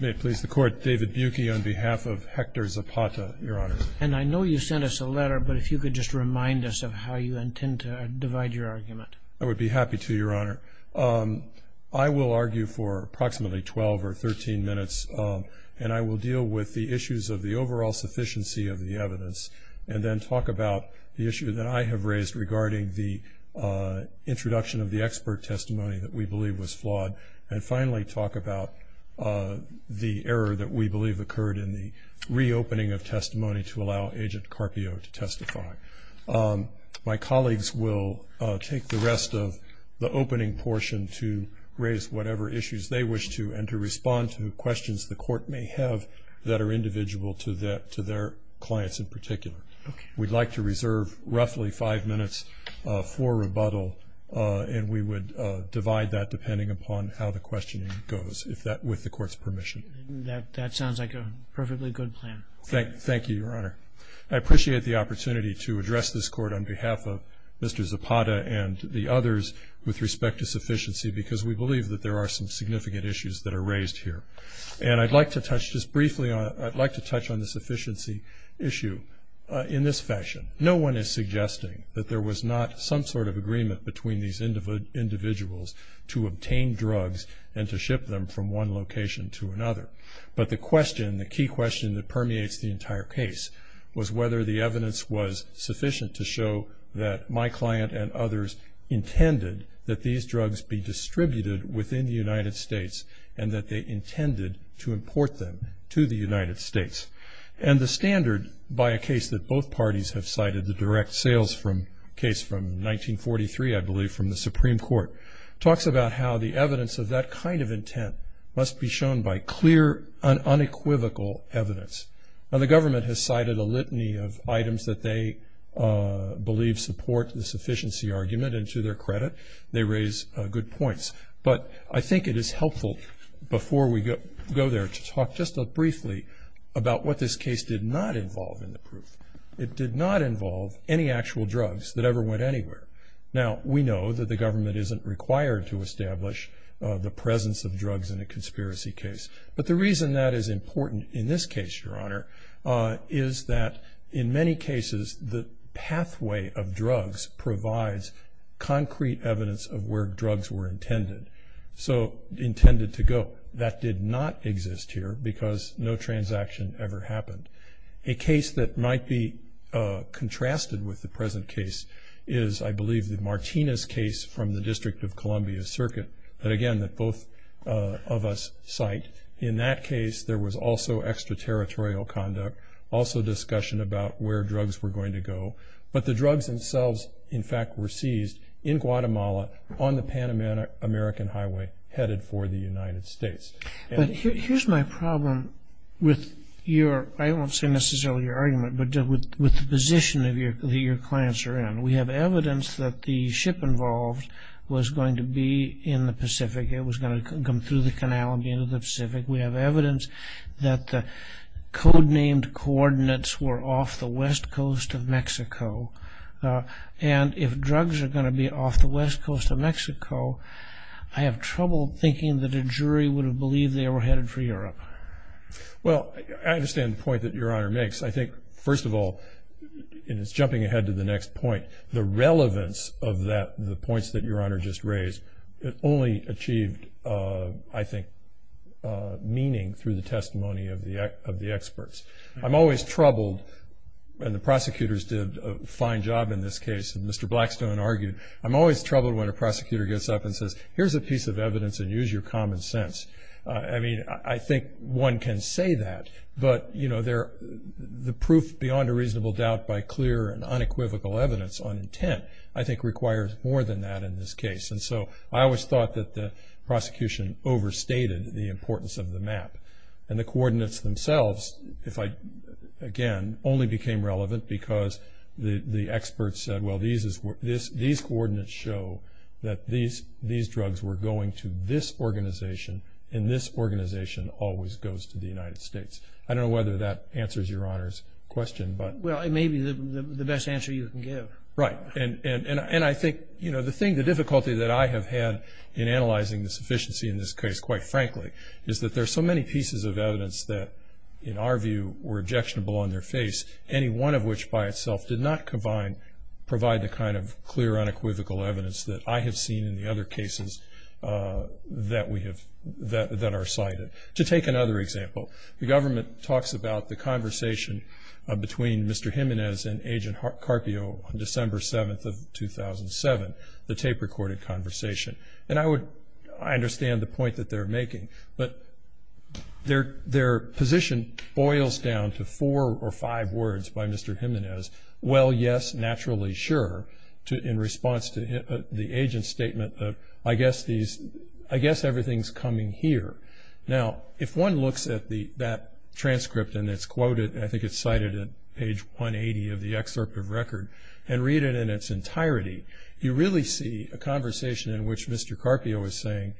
May it please the Court, David Buki on behalf of Hector Zapata, Your Honor. And I know you sent us a letter, but if you could just remind us of how you intend to divide your argument. I would be happy to, Your Honor. I will argue for approximately 12 or 13 minutes, and I will deal with the issues of the overall sufficiency of the evidence, and then talk about the issue that I have raised regarding the introduction of the expert testimony that we believe was flawed, and finally talk about the error that we believe occurred in the reopening of testimony to allow Agent Carpio to testify. My colleagues will take the rest of the opening portion to raise whatever issues they wish to and to respond to questions the Court may have that are individual to their clients in particular. We'd like to reserve roughly five minutes for rebuttal, and we would divide that depending upon how the questioning goes with the Court's permission. That sounds like a perfectly good plan. Thank you, Your Honor. I appreciate the opportunity to address this Court on behalf of Mr. Zapata and the others with respect to sufficiency because we believe that there are some significant issues that are raised here. And I'd like to touch just briefly on it. I'd like to touch on the sufficiency issue in this fashion. No one is suggesting that there was not some sort of agreement between these individuals to obtain drugs and to ship them from one location to another. But the question, the key question that permeates the entire case, was whether the evidence was sufficient to show that my client and others intended that these drugs be distributed within the United States and that they intended to import them to the United States. And the standard by a case that both parties have cited, the direct sales case from 1943, I believe, from the Supreme Court, talks about how the evidence of that kind of intent must be shown by clear and unequivocal evidence. Now, the government has cited a litany of items that they believe support the sufficiency argument. And to their credit, they raise good points. But I think it is helpful before we go there to talk just briefly about what this case did not involve in the proof. It did not involve any actual drugs that ever went anywhere. Now, we know that the government isn't required to establish the presence of drugs in a conspiracy case. But the reason that is important in this case, Your Honor, is that in many cases the pathway of drugs provides concrete evidence of where drugs were intended, so intended to go. That did not exist here because no transaction ever happened. A case that might be contrasted with the present case is, I believe, the Martinez case from the District of Columbia Circuit that, again, that both of us cite. In that case, there was also extraterritorial conduct, also discussion about where drugs were going to go. But the drugs themselves, in fact, were seized in Guatemala on the Pan-American Highway headed for the United States. But here's my problem with your, I won't say necessarily your argument, but with the position that your clients are in. We have evidence that the ship involved was going to be in the Pacific. It was going to come through the canal and be into the Pacific. We have evidence that the code-named coordinates were off the west coast of Mexico. And if drugs are going to be off the west coast of Mexico, I have trouble thinking that a jury would have believed they were headed for Europe. Well, I understand the point that Your Honor makes. I think, first of all, and it's jumping ahead to the next point, the relevance of the points that Your Honor just raised, it only achieved, I think, meaning through the testimony of the experts. I'm always troubled, and the prosecutors did a fine job in this case, and Mr. Blackstone argued, I'm always troubled when a prosecutor gets up and says, here's a piece of evidence and use your common sense. I mean, I think one can say that, but the proof beyond a reasonable doubt by clear and unequivocal evidence on intent, I think, requires more than that in this case. And so I always thought that the prosecution overstated the importance of the map. And the coordinates themselves, again, only became relevant because the experts said, well, these coordinates show that these drugs were going to this organization and this organization always goes to the United States. I don't know whether that answers Your Honor's question. Well, it may be the best answer you can give. Right. And I think the difficulty that I have had in analyzing the sufficiency in this case, quite frankly, is that there are so many pieces of evidence that, in our view, were objectionable on their face, any one of which by itself did not provide the kind of clear, unequivocal evidence that I have seen in the other cases that are cited. To take another example, the government talks about the conversation between Mr. Jimenez and Agent Carpio on December 7th of 2007, the tape-recorded conversation. And I understand the point that they're making, but their position boils down to four or five words by Mr. Jimenez, well, yes, naturally, sure, in response to the agent's statement, I guess everything's coming here. Now, if one looks at that transcript and it's quoted, I think it's cited at page 180 of the excerpt of record, and read it in its entirety, you really see a conversation in which Mr. Carpio is saying,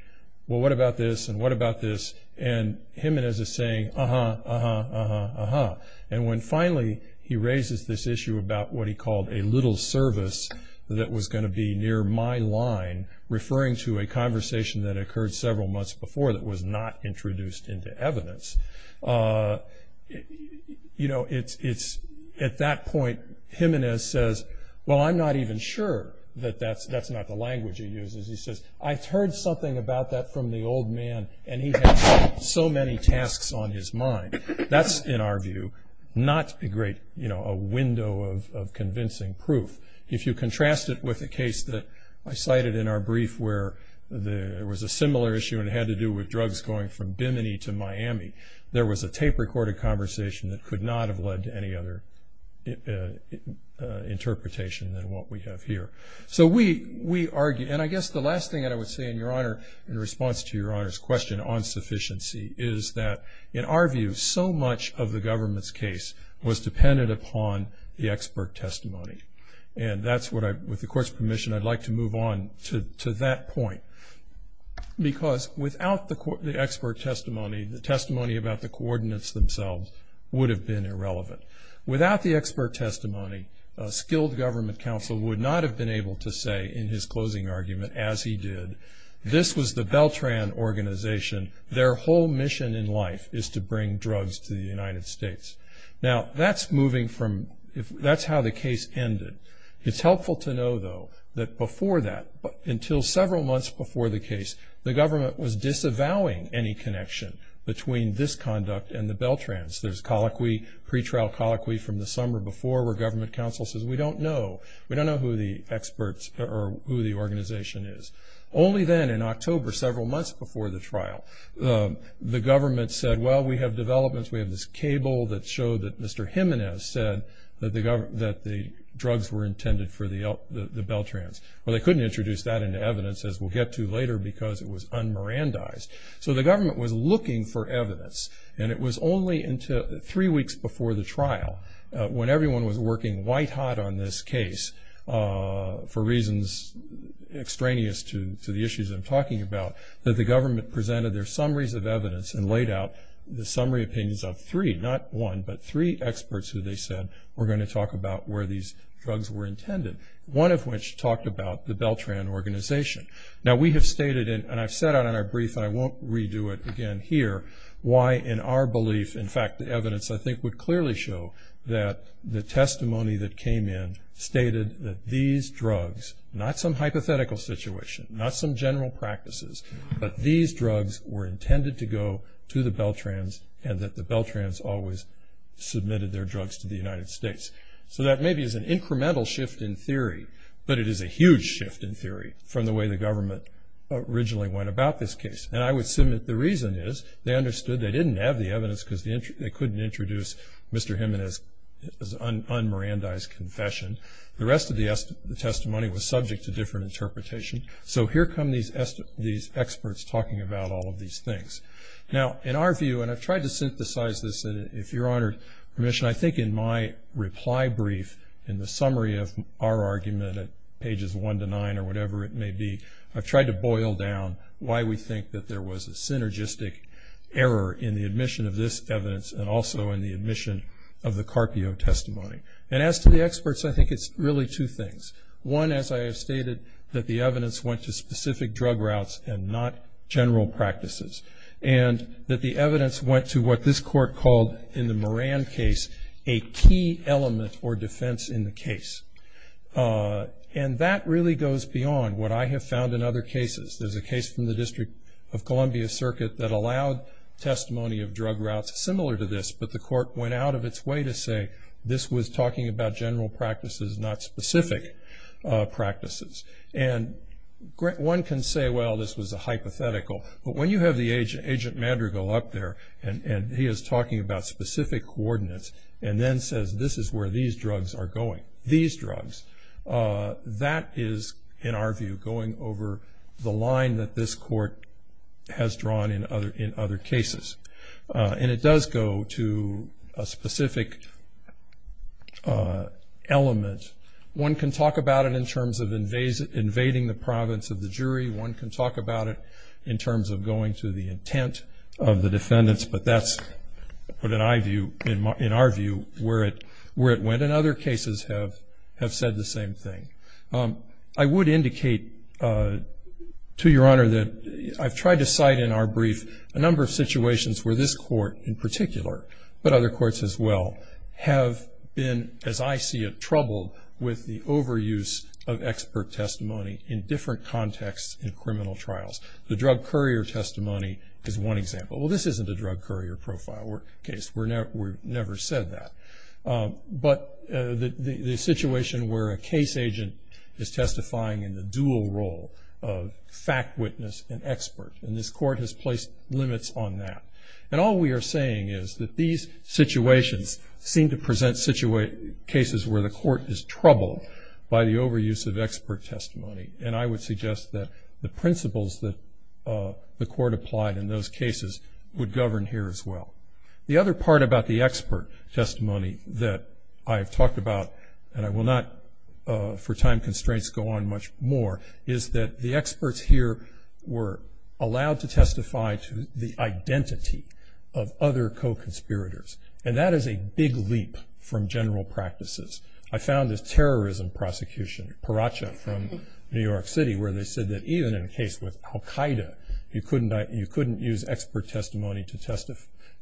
well, what about this, and what about this, and Jimenez is saying, uh-huh, uh-huh, uh-huh, uh-huh. And when finally he raises this issue about what he called a little service that was going to be near my line, referring to a conversation that occurred several months before that was not introduced into evidence, at that point Jimenez says, well, I'm not even sure that that's not the language he uses. He says, I heard something about that from the old man, and he had so many tasks on his mind. That's, in our view, not a great window of convincing proof. If you contrast it with a case that I cited in our brief where there was a similar issue and it had to do with drugs going from Bimini to Miami, there was a tape-recorded conversation that could not have led to any other interpretation than what we have here. So we argue, and I guess the last thing that I would say in response to Your Honor's question on sufficiency is that, in our view, so much of the government's case was dependent upon the expert testimony. And that's what I, with the Court's permission, I'd like to move on to that point. Because without the expert testimony, the testimony about the coordinates themselves would have been irrelevant. Without the expert testimony, a skilled government counsel would not have been able to say in his closing argument, as he did, this was the Beltran organization. Their whole mission in life is to bring drugs to the United States. Now, that's moving from, that's how the case ended. It's helpful to know, though, that before that, until several months before the case, the government was disavowing any connection between this conduct and the Beltrans. There's pre-trial colloquy from the summer before where government counsel says, we don't know, we don't know who the experts or who the organization is. Only then, in October, several months before the trial, the government said, well, we have developments, we have this cable that showed that Mr. Jimenez said that the drugs were intended for the Beltrans. Well, they couldn't introduce that into evidence, as we'll get to later, because it was un-Mirandized. So the government was looking for evidence, and it was only until three weeks before the trial, when everyone was working white-hot on this case, for reasons extraneous to the issues I'm talking about, that the government presented their summaries of evidence and laid out the summary opinions of three, not one, but three experts who they said were going to talk about where these drugs were intended, one of which talked about the Beltran organization. Now, we have stated, and I've said on our brief, and I won't redo it again here, why in our belief, in fact, the evidence I think would clearly show that the testimony that came in stated that these drugs, not some hypothetical situation, not some general practices, but these drugs were intended to go to the Beltrans and that the Beltrans always submitted their drugs to the United States. So that maybe is an incremental shift in theory, but it is a huge shift in theory from the way the government originally went about this case. And I would submit the reason is they understood they didn't have the evidence because they couldn't introduce Mr. Himen as un-Mirandized confession. The rest of the testimony was subject to different interpretation. So here come these experts talking about all of these things. Now, in our view, and I've tried to synthesize this, if you're honored permission, I think in my reply brief, in the summary of our argument at pages one to nine or whatever it may be, I've tried to boil down why we think that there was a synergistic error in the admission of this evidence and also in the admission of the Carpio testimony. And as to the experts, I think it's really two things. One, as I have stated, that the evidence went to specific drug routes and not general practices, and that the evidence went to what this court called in the Mirand case a key element or defense in the case. And that really goes beyond what I have found in other cases. There's a case from the District of Columbia Circuit that allowed testimony of drug routes similar to this, but the court went out of its way to say this was talking about general practices, not specific practices. And one can say, well, this was a hypothetical. But when you have the agent Mandrigal up there and he is talking about specific coordinates and then says this is where these drugs are going, these drugs, that is, in our view, going over the line that this court has drawn in other cases. And it does go to a specific element. One can talk about it in terms of invading the province of the jury. One can talk about it in terms of going to the intent of the defendants. But that's, in our view, where it went. And other cases have said the same thing. I would indicate to Your Honor that I've tried to cite in our brief a number of situations where this court, in particular, but other courts as well, have been, as I see it, troubled with the overuse of expert testimony in different contexts in criminal trials. The drug courier testimony is one example. Well, this isn't a drug courier profile case. We've never said that. But the situation where a case agent is testifying in the dual role of fact witness and expert, and this court has placed limits on that. And all we are saying is that these situations seem to present cases where the court is troubled by the overuse of expert testimony. And I would suggest that the principles that the court applied in those cases would govern here as well. The other part about the expert testimony that I have talked about, and I will not for time constraints go on much more, is that the experts here were allowed to testify to the identity of other co-conspirators. And that is a big leap from general practices. I found this terrorism prosecution, Paracha from New York City, where they said that even in a case with Al-Qaeda, you couldn't use expert testimony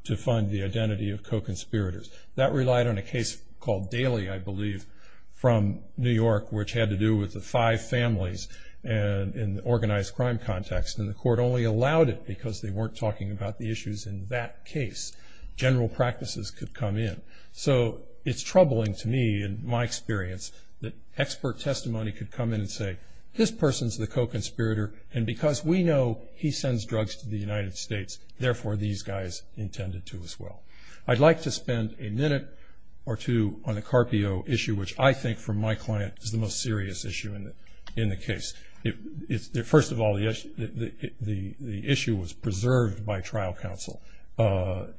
to find the identity of co-conspirators. That relied on a case called Daly, I believe, from New York, which had to do with the five families in the organized crime context. And the court only allowed it because they weren't talking about the issues in that case. General practices could come in. So it's troubling to me, in my experience, that expert testimony could come in and say this person is the co-conspirator, and because we know he sends drugs to the United States, therefore these guys intended to as well. I'd like to spend a minute or two on the Carpio issue, which I think for my client is the most serious issue in the case. First of all, the issue was preserved by trial counsel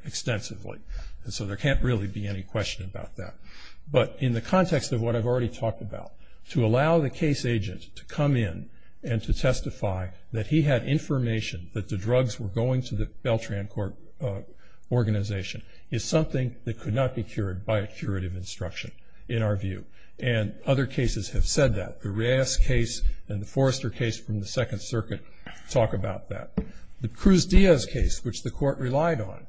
extensively. And so there can't really be any question about that. But in the context of what I've already talked about, to allow the case agent to come in and to testify that he had information that the drugs were going to the Beltran organization is something that could not be cured by a curative instruction, in our view. And other cases have said that. The Reyes case and the Forrester case from the Second Circuit talk about that. The Cruz-Diaz case, which the court relied on,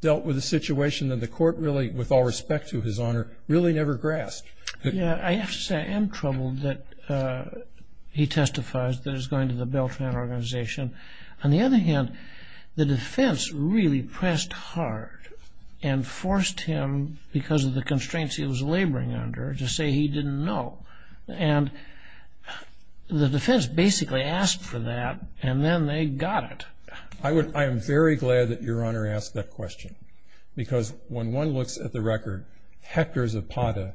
dealt with a situation that the court really, with all respect to his honor, really never grasped. I have to say I am troubled that he testifies that it's going to the Beltran organization. On the other hand, the defense really pressed hard and forced him, because of the constraints he was laboring under, to say he didn't know. And the defense basically asked for that, and then they got it. I am very glad that Your Honor asked that question, because when one looks at the record, Hector Zapata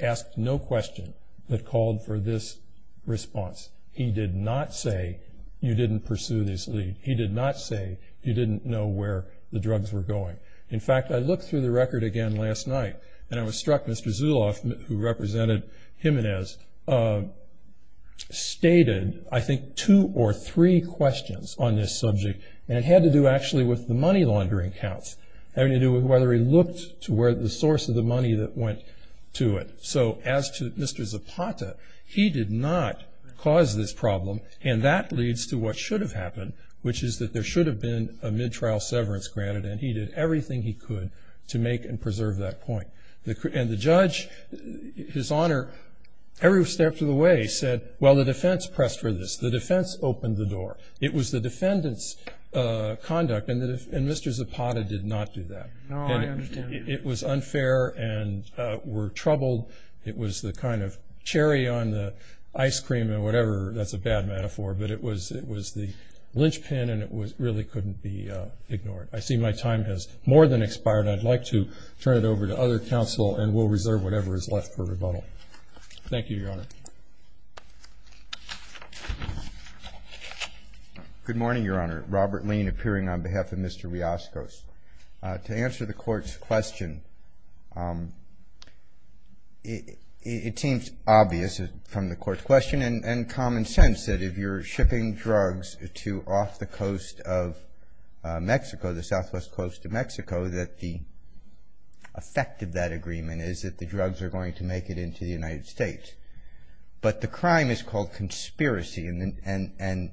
asked no question but called for this response. He did not say, you didn't pursue this lead. He did not say, you didn't know where the drugs were going. In fact, I looked through the record again last night, and I was struck Mr. Zuloff, who represented Jimenez, stated I think two or three questions on this subject, and it had to do actually with the money laundering counts. It had to do with whether he looked to where the source of the money that went to it. So as to Mr. Zapata, he did not cause this problem, and that leads to what should have happened, which is that there should have been a mid-trial severance granted, and he did everything he could to make and preserve that point. And the judge, His Honor, every step of the way said, well, the defense pressed for this. The defense opened the door. It was the defendant's conduct, and Mr. Zapata did not do that. No, I understand. It was unfair and we're troubled. It was the kind of cherry on the ice cream or whatever. That's a bad metaphor, but it was the linchpin, and it really couldn't be ignored. I see my time has more than expired. I'd like to turn it over to other counsel, and we'll reserve whatever is left for rebuttal. Thank you, Your Honor. Good morning, Your Honor. Robert Lean appearing on behalf of Mr. Rioscos. To answer the Court's question, it seems obvious from the Court's question and common sense that if you're shipping drugs to off the coast of Mexico, the southwest coast of Mexico, that the effect of that agreement is that the drugs are going to make it into the United States. But the crime is called conspiracy, and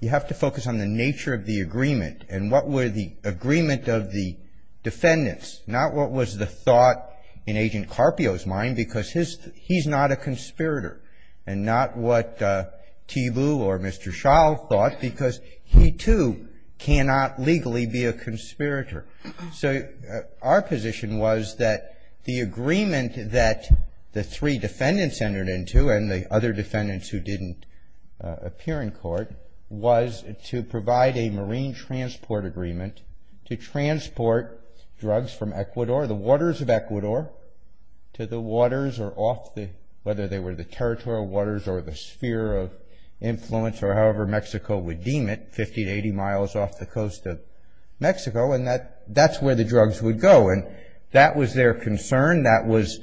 you have to focus on the nature of the agreement and what were the agreement of the defendants, not what was the thought in Agent Carpio's mind, because he's not a conspirator, and not what Thiebaud or Mr. Schall thought, because he, too, cannot legally be a conspirator. So our position was that the agreement that the three defendants entered into and the other defendants who didn't appear in court was to provide a marine transport agreement to transport drugs from Ecuador, the waters of Ecuador, to the waters or off the, whether they were the territorial waters or the sphere of influence or however Mexico would deem it, 50 to 80 miles off the coast of Mexico, and that's where the drugs would go. And that was their concern. That was,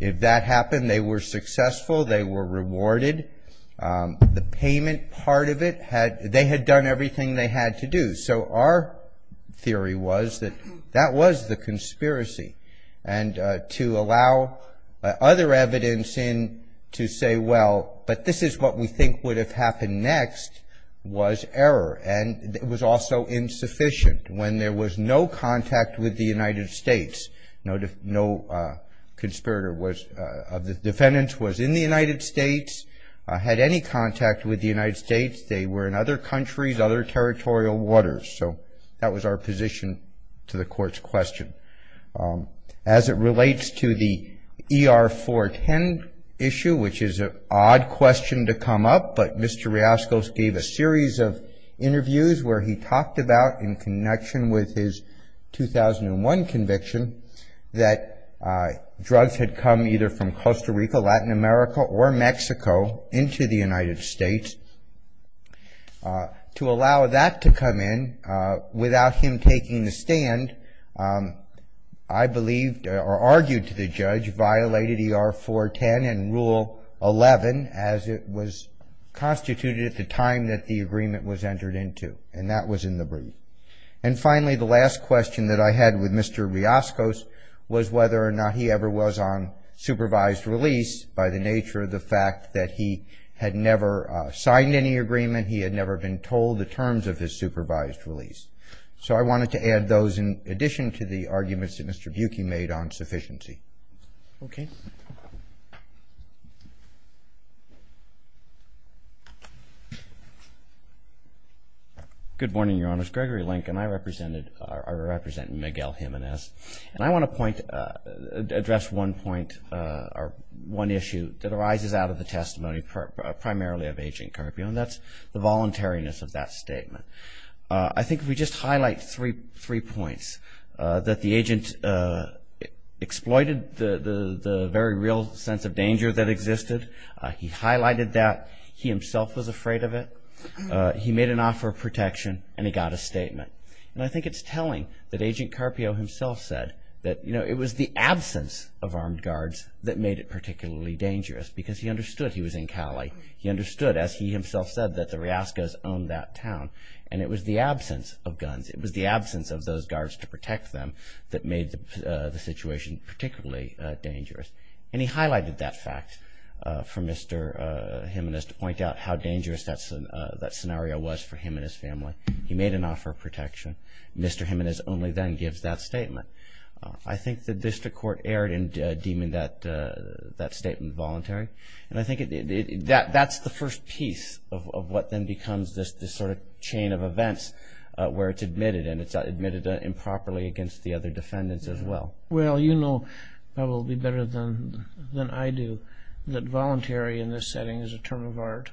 if that happened, they were successful. They were rewarded. The payment part of it had, they had done everything they had to do. So our theory was that that was the conspiracy. And to allow other evidence in to say, well, but this is what we think would have happened next, was error. And it was also insufficient. When there was no contact with the United States, no conspirator of the defendants was in the United States, had any contact with the United States. They were in other countries, other territorial waters. So that was our position to the court's question. As it relates to the ER-410 issue, which is an odd question to come up, but Mr. Riascos gave a series of interviews where he talked about, in connection with his 2001 conviction, that drugs had come either from Costa Rica, Latin America, or Mexico into the United States. To allow that to come in, without him taking the stand, I believed, or argued to the judge, violated ER-410 and Rule 11, as it was constituted at the time that the agreement was entered into. And that was in the brief. And finally, the last question that I had with Mr. Riascos was whether or not he ever was on supervised release, by the nature of the fact that he had never signed any agreement, he had never been told the terms of his supervised release. So I wanted to add those in addition to the arguments that Mr. Buki made on sufficiency. Okay. Good morning, Your Honors. Gregory Lincoln. I represent Miguel Jimenez. And I want to point, address one point, or one issue that arises out of the testimony primarily of Agent Carpio, and that's the voluntariness of that statement. I think if we just highlight three points, that the agent exploited the very real sense of danger that existed. He highlighted that. He himself was afraid of it. He made an offer of protection, and he got a statement. And I think it's telling that Agent Carpio himself said that, you know, it was the absence of armed guards that made it particularly dangerous, because he understood he was in Cali. He understood, as he himself said, that the Riascos owned that town. And it was the absence of guns, it was the absence of those guards to protect them that made the situation particularly dangerous. And he highlighted that fact for Mr. Jimenez to point out how dangerous that scenario was for him and his family. He made an offer of protection. Mr. Jimenez only then gives that statement. I think the district court erred in deeming that statement voluntary. And I think that's the first piece of what then becomes this sort of chain of events where it's admitted, and it's admitted improperly against the other defendants as well. Well, you know probably better than I do that voluntary in this setting is a term of art.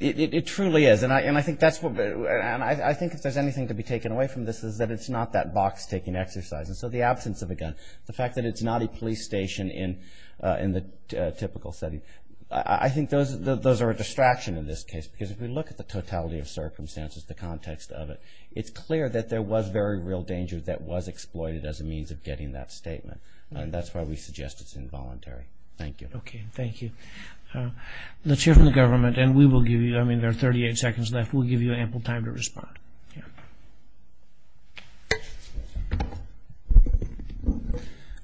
It truly is. And I think if there's anything to be taken away from this is that it's not that box-taking exercise. And so the absence of a gun, the fact that it's not a police station in the typical setting, I think those are a distraction in this case. Because if we look at the totality of circumstances, the context of it, it's clear that there was very real danger that was exploited as a means of getting that statement. And that's why we suggest it's involuntary. Thank you. Okay. Thank you. Let's hear from the government. And we will give you, I mean, there are 38 seconds left. We'll give you ample time to respond. Yeah.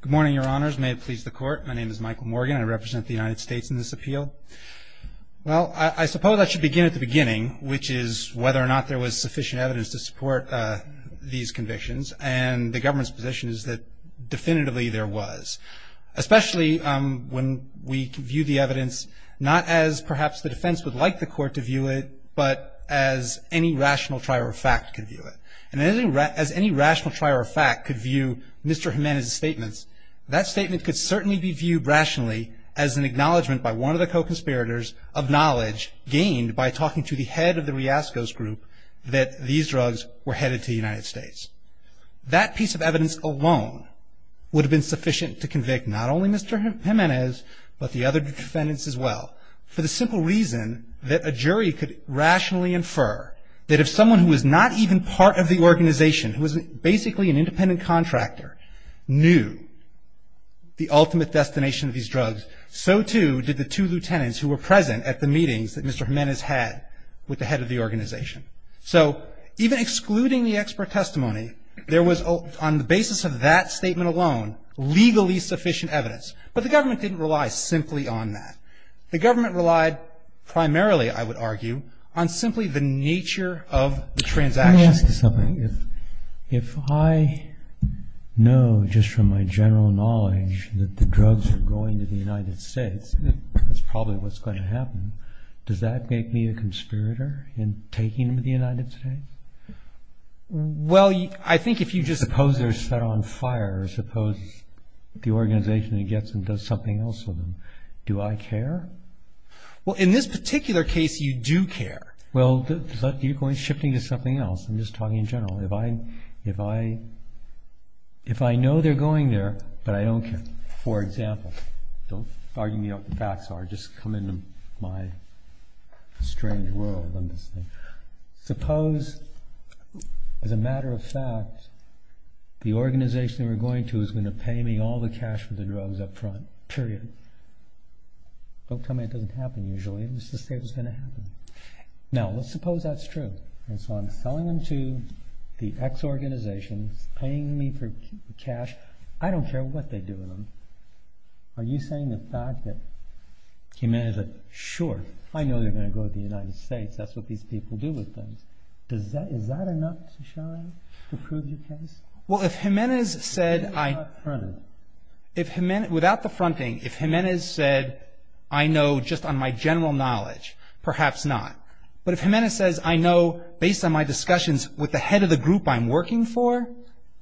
Good morning, Your Honors. May it please the Court. My name is Michael Morgan. I represent the United States in this appeal. Well, I suppose I should begin at the beginning, which is whether or not there was sufficient evidence to support these convictions. And the government's position is that definitively there was. Especially when we view the evidence not as perhaps the defense would like the Court to view it, but as any rational trier of fact could view it. And as any rational trier of fact could view Mr. Jimenez's statements, that statement could certainly be viewed rationally as an acknowledgement by one of the co-conspirators of knowledge gained by talking to the head of the Riascos group that these drugs were headed to the United States. That piece of evidence alone would have been sufficient to convict not only Mr. Jimenez, but the other defendants as well. For the simple reason that a jury could rationally infer that if someone who was not even part of the organization, who was basically an independent contractor, knew the ultimate destination of these drugs, so too did the two lieutenants who were present at the meetings that Mr. Jimenez had with the head of the organization. So even excluding the expert testimony, there was on the basis of that statement alone legally sufficient evidence. But the government didn't rely simply on that. The government relied primarily, I would argue, on simply the nature of the transactions. Let me ask you something. If I know just from my general knowledge that the drugs were going to the United States, that's probably what's going to happen. Does that make me a conspirator in taking them to the United States? Well, I think if you just... Suppose they're set on fire. Suppose the organization gets them and does something else with them. Do I care? Well, in this particular case, you do care. Well, you're shifting to something else. I'm just talking in general. If I know they're going there, but I don't care. For example, don't argue me what the facts are. Just come into my strange world. Suppose, as a matter of fact, the organization we're going to is going to pay me all the cash for the drugs up front. Period. Don't tell me it doesn't happen usually. I'm just going to say it's going to happen. Now, let's suppose that's true. And so I'm selling them to the X organization, paying me for cash. I don't care what they do with them. Are you saying the fact that Jimenez... Sure. I know they're going to go to the United States. That's what these people do with things. Is that enough to prove your case? Well, if Jimenez said... Without the fronting. Without the fronting. If Jimenez said, I know just on my general knowledge, perhaps not. But if Jimenez says, I know based on my discussions with the head of the group I'm working for,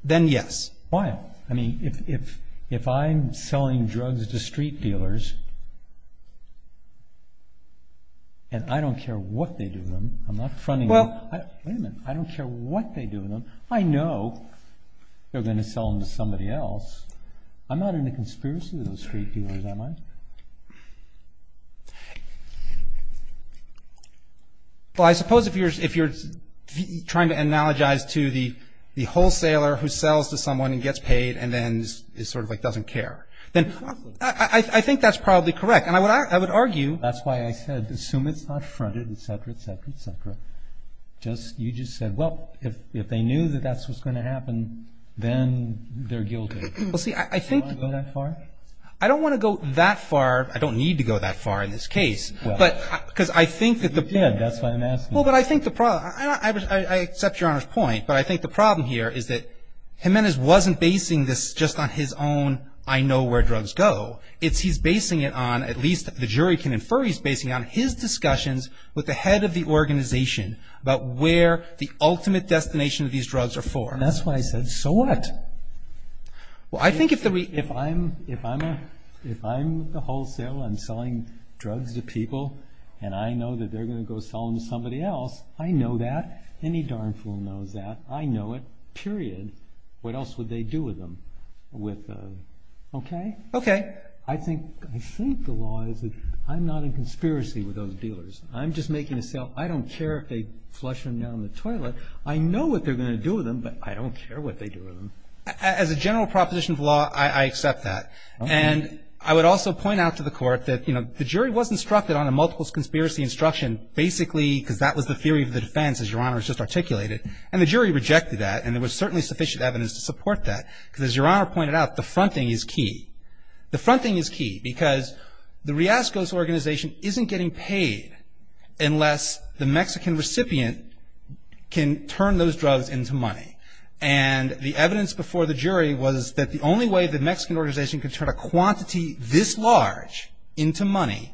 then yes. Why? I mean, if I'm selling drugs to street dealers and I don't care what they do with them, I'm not fronting... Well... Wait a minute. I don't care what they do with them. I know they're going to sell them to somebody else. I'm not in a conspiracy with those street dealers, am I? Well, I suppose if you're trying to analogize to the wholesaler who sells to someone and gets paid and then is sort of like doesn't care, then I think that's probably correct. And I would argue... That's why I said assume it's not fronted, et cetera, et cetera, et cetera. You just said, well, if they knew that that's what's going to happen, then they're guilty. Well, see, I think... Do you want to go that far? I don't want to go that far. I don't need to go that far in this case. Well... Because I think that the... Yeah, that's what I'm asking. Well, but I think the problem... I accept Your Honor's point, but I think the problem here is that Jimenez wasn't basing this just on his own I know where drugs go. It's he's basing it on at least the jury can infer he's basing it on his discussions with the head of the organization about where the ultimate destination of these drugs are for. That's why I said so what? Well, I think if the... If I'm the wholesale and selling drugs to people and I know that they're going to go sell them to somebody else, I know that. Any darn fool knows that. I know it, period. What else would they do with them? With... Okay? Okay. I think the law is that I'm not in conspiracy with those dealers. I'm just making a sale. I don't care if they flush them down the toilet. I know what they're going to do with them, but I don't care what they do with them. As a general proposition of law, I accept that. And I would also point out to the court that, you know, the jury was instructed on a multiple conspiracy instruction basically because that was the theory of the defense, as Your Honor has just articulated. And the jury rejected that, and there was certainly sufficient evidence to support that. Because as Your Honor pointed out, the front thing is key. The front thing is key because the Riascos organization isn't getting paid unless the Mexican recipient can turn those drugs into money. And the evidence before the jury was that the only way the Mexican organization could turn a quantity this large into money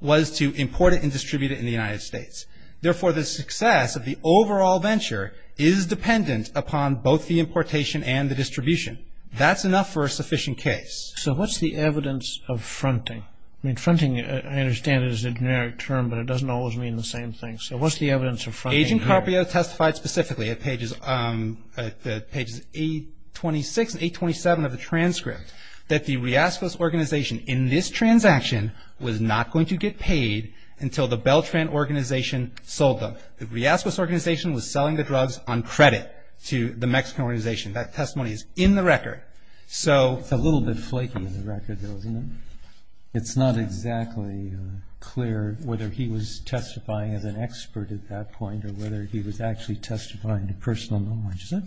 was to import it and distribute it in the United States. Therefore, the success of the overall venture is dependent upon both the importation and the distribution. That's enough for a sufficient case. So what's the evidence of fronting? I mean, fronting, I understand, is a generic term, but it doesn't always mean the same thing. So what's the evidence of fronting here? Agent Carpio testified specifically at pages 826 and 827 of the transcript that the Riascos organization in this transaction was not going to get paid until the Beltran organization sold them. The Riascos organization was selling the drugs on credit to the Mexican organization. That testimony is in the record. So ‑‑ It's a little bit flaky in the record, though, isn't it? It's not exactly clear whether he was testifying as an expert at that point or whether he was actually testifying to personal knowledge, is it?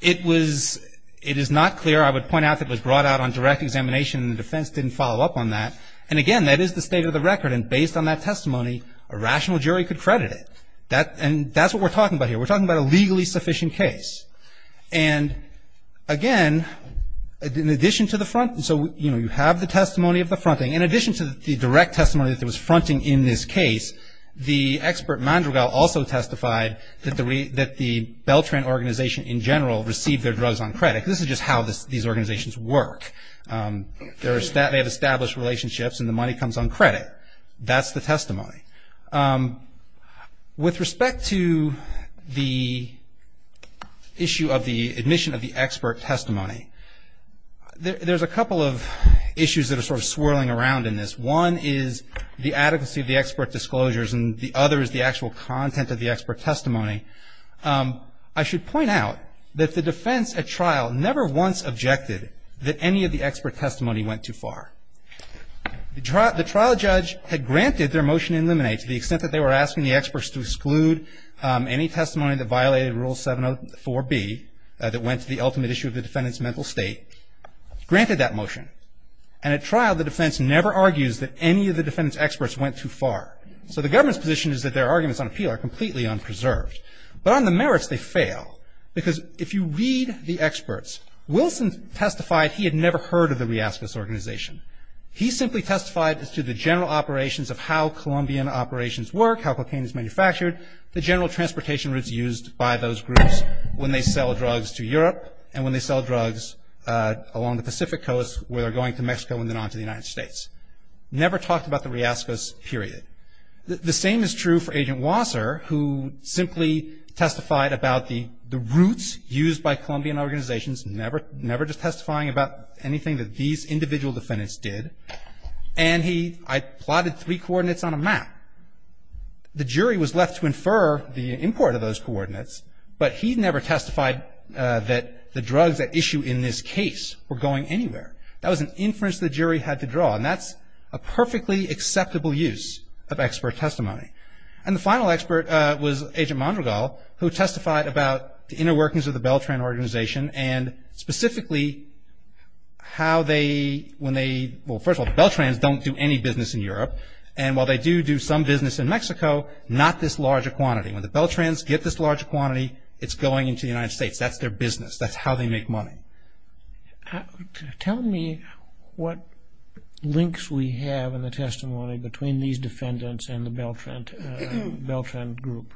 It was ‑‑ it is not clear. I would point out that it was brought out on direct examination and the defense didn't follow up on that. And, again, that is the state of the record. And based on that testimony, a rational jury could credit it. And that's what we're talking about here. We're talking about a legally sufficient case. And, again, in addition to the front ‑‑ so, you know, you have the testimony of the fronting. In addition to the direct testimony that there was fronting in this case, the expert Mandragal also testified that the Beltran organization in general received their drugs on credit. This is just how these organizations work. They have established relationships and the money comes on credit. That's the testimony. With respect to the issue of the admission of the expert testimony, there's a couple of issues that are sort of swirling around in this. One is the adequacy of the expert disclosures and the other is the actual content of the expert testimony. I should point out that the defense at trial never once objected that any of the expert testimony went too far. The trial judge had granted their motion to eliminate, to the extent that they were asking the experts to exclude any testimony that violated Rule 704B that went to the ultimate issue of the defendant's mental state, granted that motion. And at trial, the defense never argues that any of the defendant's experts went too far. So the government's position is that their arguments on appeal are completely unpreserved. But on the merits, they fail. Because if you read the experts, Wilson testified he had never heard of the Riascus organization. He simply testified as to the general operations of how Colombian operations work, how cocaine is manufactured, the general transportation routes used by those groups when they sell drugs to Europe and when they sell drugs along the Pacific coast where they're going to Mexico and then on to the United States. Never talked about the Riascus, period. The same is true for Agent Wasser, who simply testified about the routes used by Colombian organizations, never just testifying about anything that these individual defendants did. And he plotted three coordinates on a map. The jury was left to infer the import of those coordinates, but he never testified that the drugs at issue in this case were going anywhere. That was an inference the jury had to draw. And that's a perfectly acceptable use of expert testimony. And the final expert was Agent Mondragal, who testified about the inner workings of the Beltran organization and specifically how they, when they, well, first of all, the Beltrans don't do any business in Europe. And while they do do some business in Mexico, not this large a quantity. When the Beltrans get this large a quantity, it's going into the United States. That's their business. That's how they make money. Tell me what links we have in the testimony between these defendants and the Beltran group.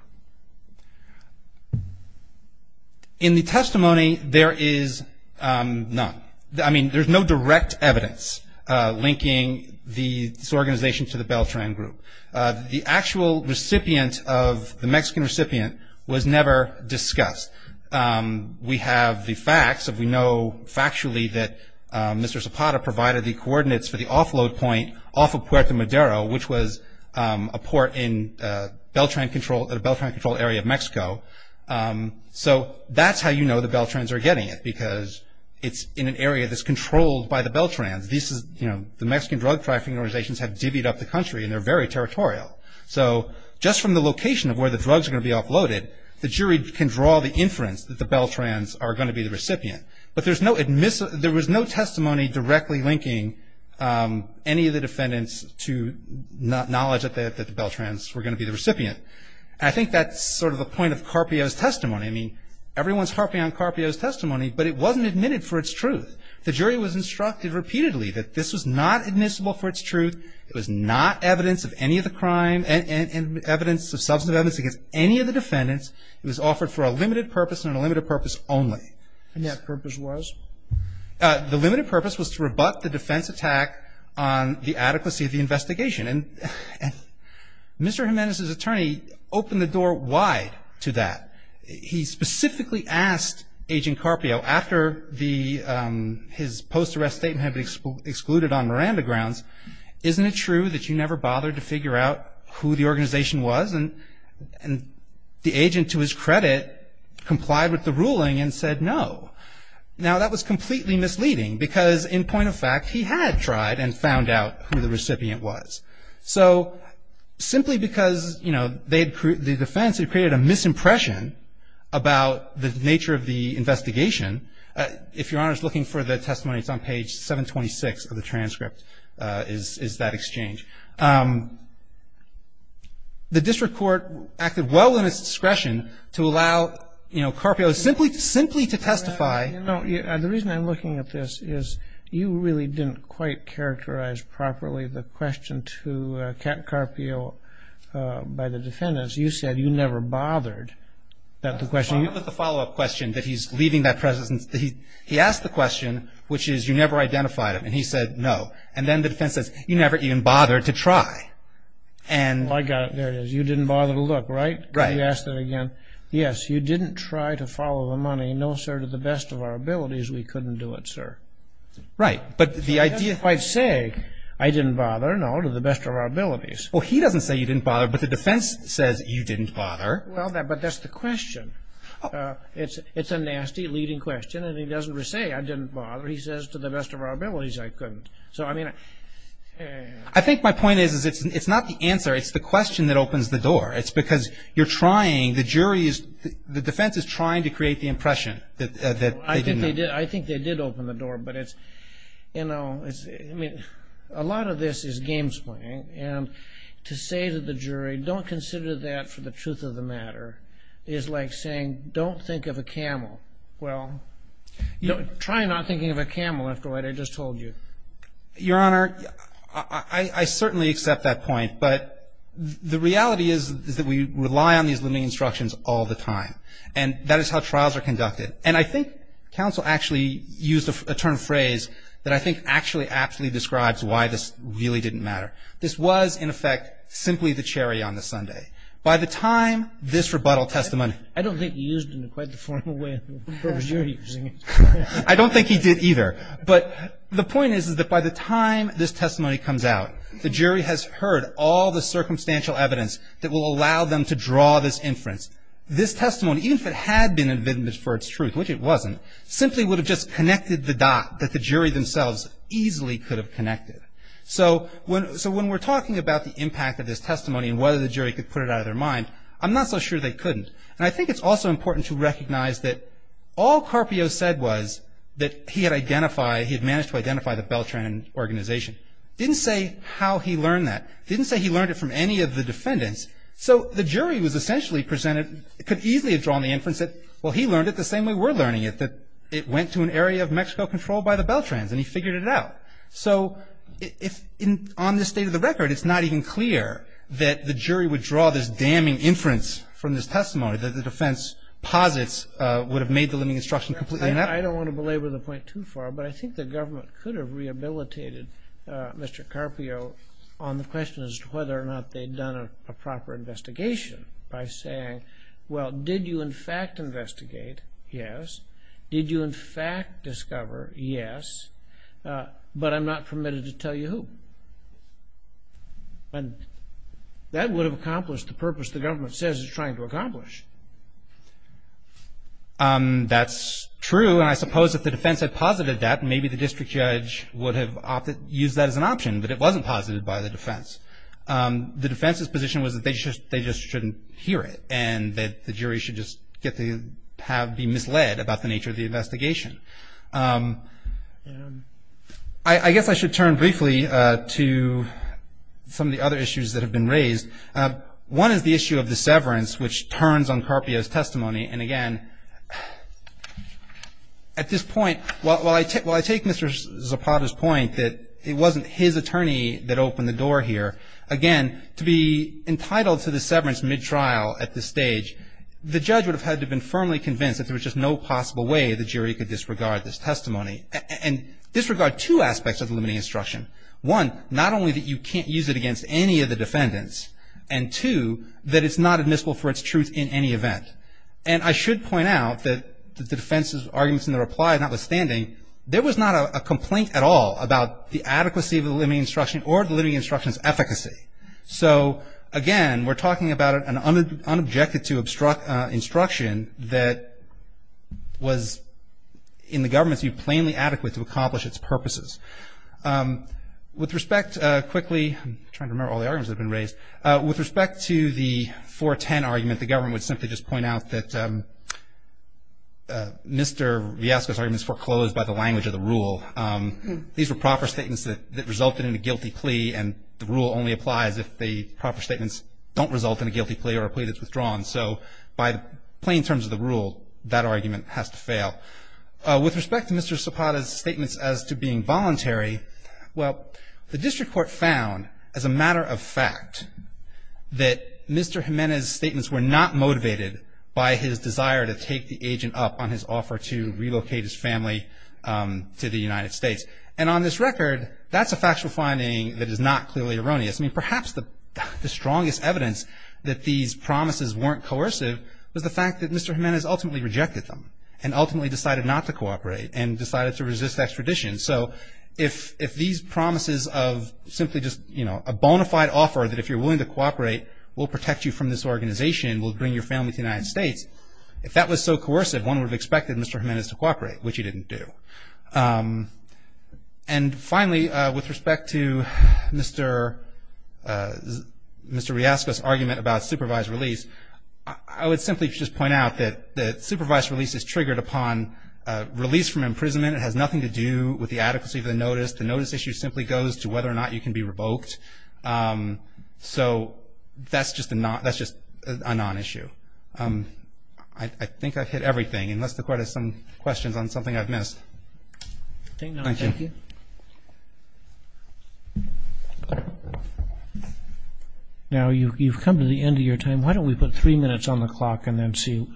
In the testimony, there is none. I mean, there's no direct evidence linking this organization to the Beltran group. The actual recipient of, the Mexican recipient, was never discussed. We have the facts. We know factually that Mr. Zapata provided the coordinates for the offload point off of Puerto Madero, which was a port in Beltran controlled area of Mexico. So that's how you know the Beltrans are getting it, because it's in an area that's controlled by the Beltrans. The Mexican drug trafficking organizations have divvied up the country, and they're very territorial. So just from the location of where the drugs are going to be offloaded, the jury can draw the inference that the Beltrans are going to be the recipient. But there was no testimony directly linking any of the defendants to knowledge that the Beltrans were going to be the recipient. I think that's sort of the point of Carpio's testimony. I mean, everyone's harping on Carpio's testimony, but it wasn't admitted for its truth. The jury was instructed repeatedly that this was not admissible for its truth. It was not evidence of any of the crime and evidence of substantive evidence against any of the defendants. It was offered for a limited purpose and a limited purpose only. And that purpose was? The limited purpose was to rebut the defense attack on the adequacy of the investigation. And Mr. Jimenez's attorney opened the door wide to that. He specifically asked Agent Carpio after his post-arrest statement had been excluded on Miranda grounds, isn't it true that you never bothered to figure out who the organization was? And the agent, to his credit, complied with the ruling and said no. Now, that was completely misleading because, in point of fact, he had tried and found out who the recipient was. So simply because, you know, the defense had created a misimpression about the nature of the investigation, if Your Honor is looking for the testimony, it's on page 726 of the transcript, is that exchange. The district court acted well in its discretion to allow, you know, Carpio simply to testify. The reason I'm looking at this is you really didn't quite characterize properly the question to Captain Carpio by the defendants. You said you never bothered. The follow-up question that he's leaving that presence, he asked the question, which is you never identified him, and he said no. And then the defense says you never even bothered to try. I got it. There it is. You didn't bother to look, right? Right. Can you ask that again? Yes, you didn't try to follow the money. No, sir, to the best of our abilities, we couldn't do it, sir. Right, but the idea – I didn't say I didn't bother. No, to the best of our abilities. Well, he doesn't say you didn't bother, but the defense says you didn't bother. Well, but that's the question. It's a nasty, leading question, and he doesn't say I didn't bother. He says to the best of our abilities, I couldn't. So, I mean – I think my point is it's not the answer. It's the question that opens the door. It's because you're trying – the jury is – the defense is trying to create the impression that they didn't know. I think they did open the door, but it's – you know, it's – I mean, a lot of this is games playing, and to say to the jury don't consider that for the truth of the matter is like saying don't think of a camel. Well, try not thinking of a camel after what I just told you. Your Honor, I certainly accept that point, but the reality is that we rely on these limiting instructions all the time, and that is how trials are conducted. And I think counsel actually used a term phrase that I think actually aptly describes why this really didn't matter. This was, in effect, simply the cherry on the sundae. By the time this rebuttal testimony – I don't think he used it in quite the formal way that you're using it. I don't think he did either. But the point is that by the time this testimony comes out, the jury has heard all the circumstantial evidence that will allow them to draw this inference. This testimony, even if it had been an evidence for its truth, which it wasn't, simply would have just connected the dot that the jury themselves easily could have connected. So when we're talking about the impact of this testimony and whether the jury could put it out of their mind, I'm not so sure they couldn't. And I think it's also important to recognize that all Carpio said was that he had identified – he had managed to identify the Beltran organization. Didn't say how he learned that. Didn't say he learned it from any of the defendants. So the jury was essentially presented – could easily have drawn the inference that, well, he learned it the same way we're learning it, that it went to an area of Mexico controlled by the Beltrans, and he figured it out. So if – on the state of the record, it's not even clear that the jury would draw this damning inference from this testimony, that the defense posits would have made the limiting instruction completely inept. I don't want to belabor the point too far, but I think the government could have rehabilitated Mr. Carpio on the question as to whether or not they'd done a proper investigation by saying, well, did you in fact investigate? Yes. Did you in fact discover? Yes. Yes. But I'm not permitted to tell you who. And that would have accomplished the purpose the government says it's trying to accomplish. That's true, and I suppose if the defense had posited that, maybe the district judge would have used that as an option, but it wasn't posited by the defense. The defense's position was that they just shouldn't hear it and that the jury should just be misled about the nature of the investigation. I guess I should turn briefly to some of the other issues that have been raised. One is the issue of the severance, which turns on Carpio's testimony. And again, at this point, while I take Mr. Zapata's point that it wasn't his attorney that opened the door here, again, to be entitled to the severance mid-trial at this stage, the judge would have had to have been firmly convinced that there was just no possible way the jury could disregard this testimony. And disregard two aspects of the limiting instruction. One, not only that you can't use it against any of the defendants, and two, that it's not admissible for its truth in any event. And I should point out that the defense's arguments in the reply notwithstanding, there was not a complaint at all about the adequacy of the limiting instruction or the limiting instruction's efficacy. So again, we're talking about an unobjected to instruction that was, in the government's view, plainly adequate to accomplish its purposes. With respect to the 410 argument, the government would simply just point out that Mr. Villescaz's argument is foreclosed by the language of the rule. These were proper statements that resulted in a guilty plea, and the rule only applies if the proper statements don't result in a guilty plea or a plea that's withdrawn. So by the plain terms of the rule, that argument has to fail. With respect to Mr. Zapata's statements as to being voluntary, well, the district court found, as a matter of fact, that Mr. Jimenez's statements were not motivated by his desire to take the agent up on his offer to relocate his family to the United States. And on this record, that's a factual finding that is not clearly erroneous. I mean, perhaps the strongest evidence that these promises weren't coercive was the fact that Mr. Jimenez ultimately rejected them and ultimately decided not to cooperate and decided to resist extradition. So if these promises of simply just a bona fide offer that if you're willing to cooperate, we'll protect you from this organization, we'll bring your family to the United States, if that was so coercive, one would have expected Mr. Jimenez to cooperate, which he didn't do. And finally, with respect to Mr. Riasco's argument about supervised release, I would simply just point out that supervised release is triggered upon release from imprisonment. It has nothing to do with the adequacy of the notice. The notice issue simply goes to whether or not you can be revoked. So that's just a non-issue. I think I've hit everything, unless the Court has some questions on something I've missed. Thank you. Now, you've come to the end of your time. Why don't we put three minutes on the clock and then see.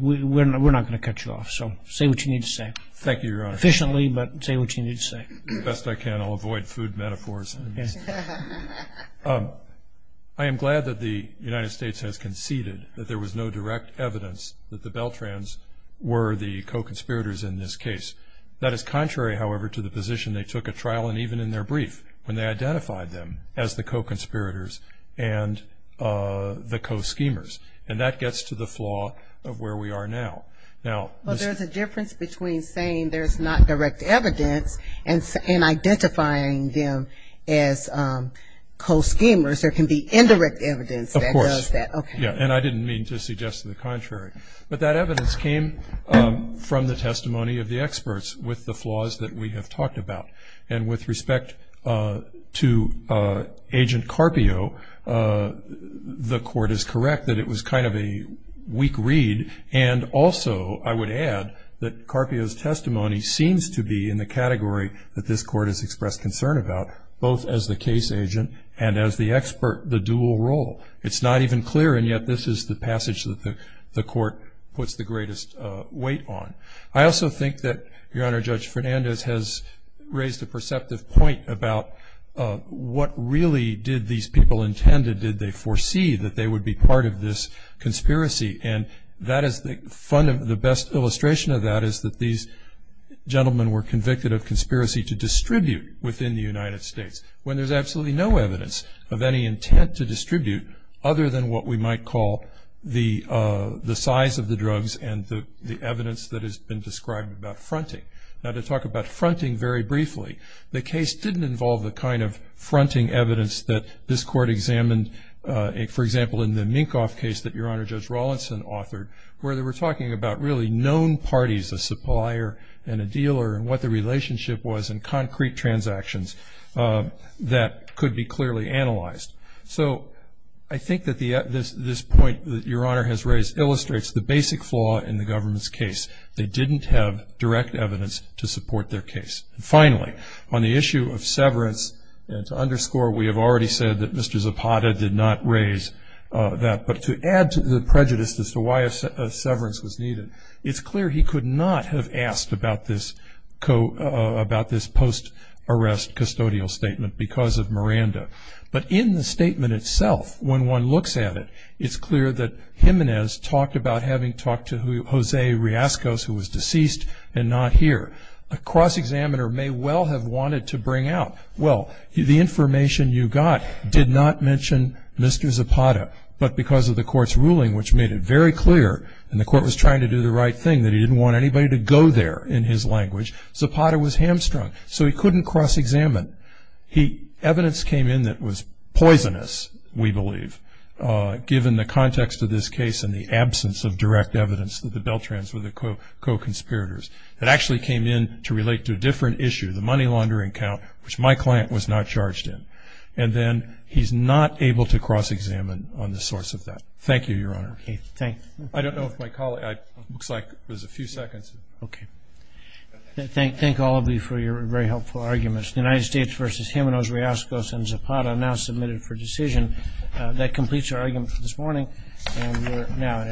We're not going to cut you off, so say what you need to say. Thank you, Your Honor. Efficiently, but say what you need to say. The best I can, I'll avoid food metaphors. I am glad that the United States has conceded that there was no direct evidence that the Beltrans were the co-conspirators in this case. That is contrary, however, to the position they took at trial and even in their brief when they identified them as the co-conspirators and the co-schemers. And that gets to the flaw of where we are now. But there's a difference between saying there's not direct evidence and identifying them as co-schemers. There can be indirect evidence that does that. Of course. And I didn't mean to suggest the contrary. But that evidence came from the testimony of the experts with the flaws that we have talked about. And with respect to Agent Carpio, the Court is correct that it was kind of a weak read and also I would add that Carpio's testimony seems to be in the category that this Court has expressed concern about, both as the case agent and as the expert, the dual role. It's not even clear, and yet this is the passage that the Court puts the greatest weight on. I also think that, Your Honor, Judge Fernandez has raised a perceptive point about what really did these people intend and did they foresee that they would be part of this conspiracy. And the best illustration of that is that these gentlemen were convicted of conspiracy to distribute within the United States when there's absolutely no evidence of any intent to distribute other than what we might call the size of the drugs and the evidence that has been described about fronting. Now, to talk about fronting very briefly, the case didn't involve the kind of fronting evidence that this Court examined. For example, in the Minkoff case that Your Honor, Judge Rawlinson authored, where they were talking about really known parties, a supplier and a dealer, and what the relationship was in concrete transactions that could be clearly analyzed. So I think that this point that Your Honor has raised illustrates the basic flaw in the government's case. They didn't have direct evidence to support their case. Finally, on the issue of severance, to underscore, we have already said that Mr. Zapata did not raise that. But to add to the prejudice as to why a severance was needed, it's clear he could not have asked about this post-arrest custodial statement because of Miranda. But in the statement itself, when one looks at it, it's clear that Jimenez talked about having talked to Jose Riascos, who was deceased and not here. A cross-examiner may well have wanted to bring out, well, the information you got did not mention Mr. Zapata. But because of the Court's ruling, which made it very clear, and the Court was trying to do the right thing, that he didn't want anybody to go there in his language, Zapata was hamstrung, so he couldn't cross-examine. Evidence came in that was poisonous, we believe, given the context of this case and the absence of direct evidence that the Beltrans were the co-conspirators. It actually came in to relate to a different issue, the money laundering account, which my client was not charged in. And then he's not able to cross-examine on the source of that. Thank you, Your Honor. I don't know if my colleague – looks like there's a few seconds. Okay. Thank all of you for your very helpful arguments. The United States v. Jimenez, Riascos, and Zapata now submitted for decision. That completes our argument for this morning, and we're now adjourned. All rise.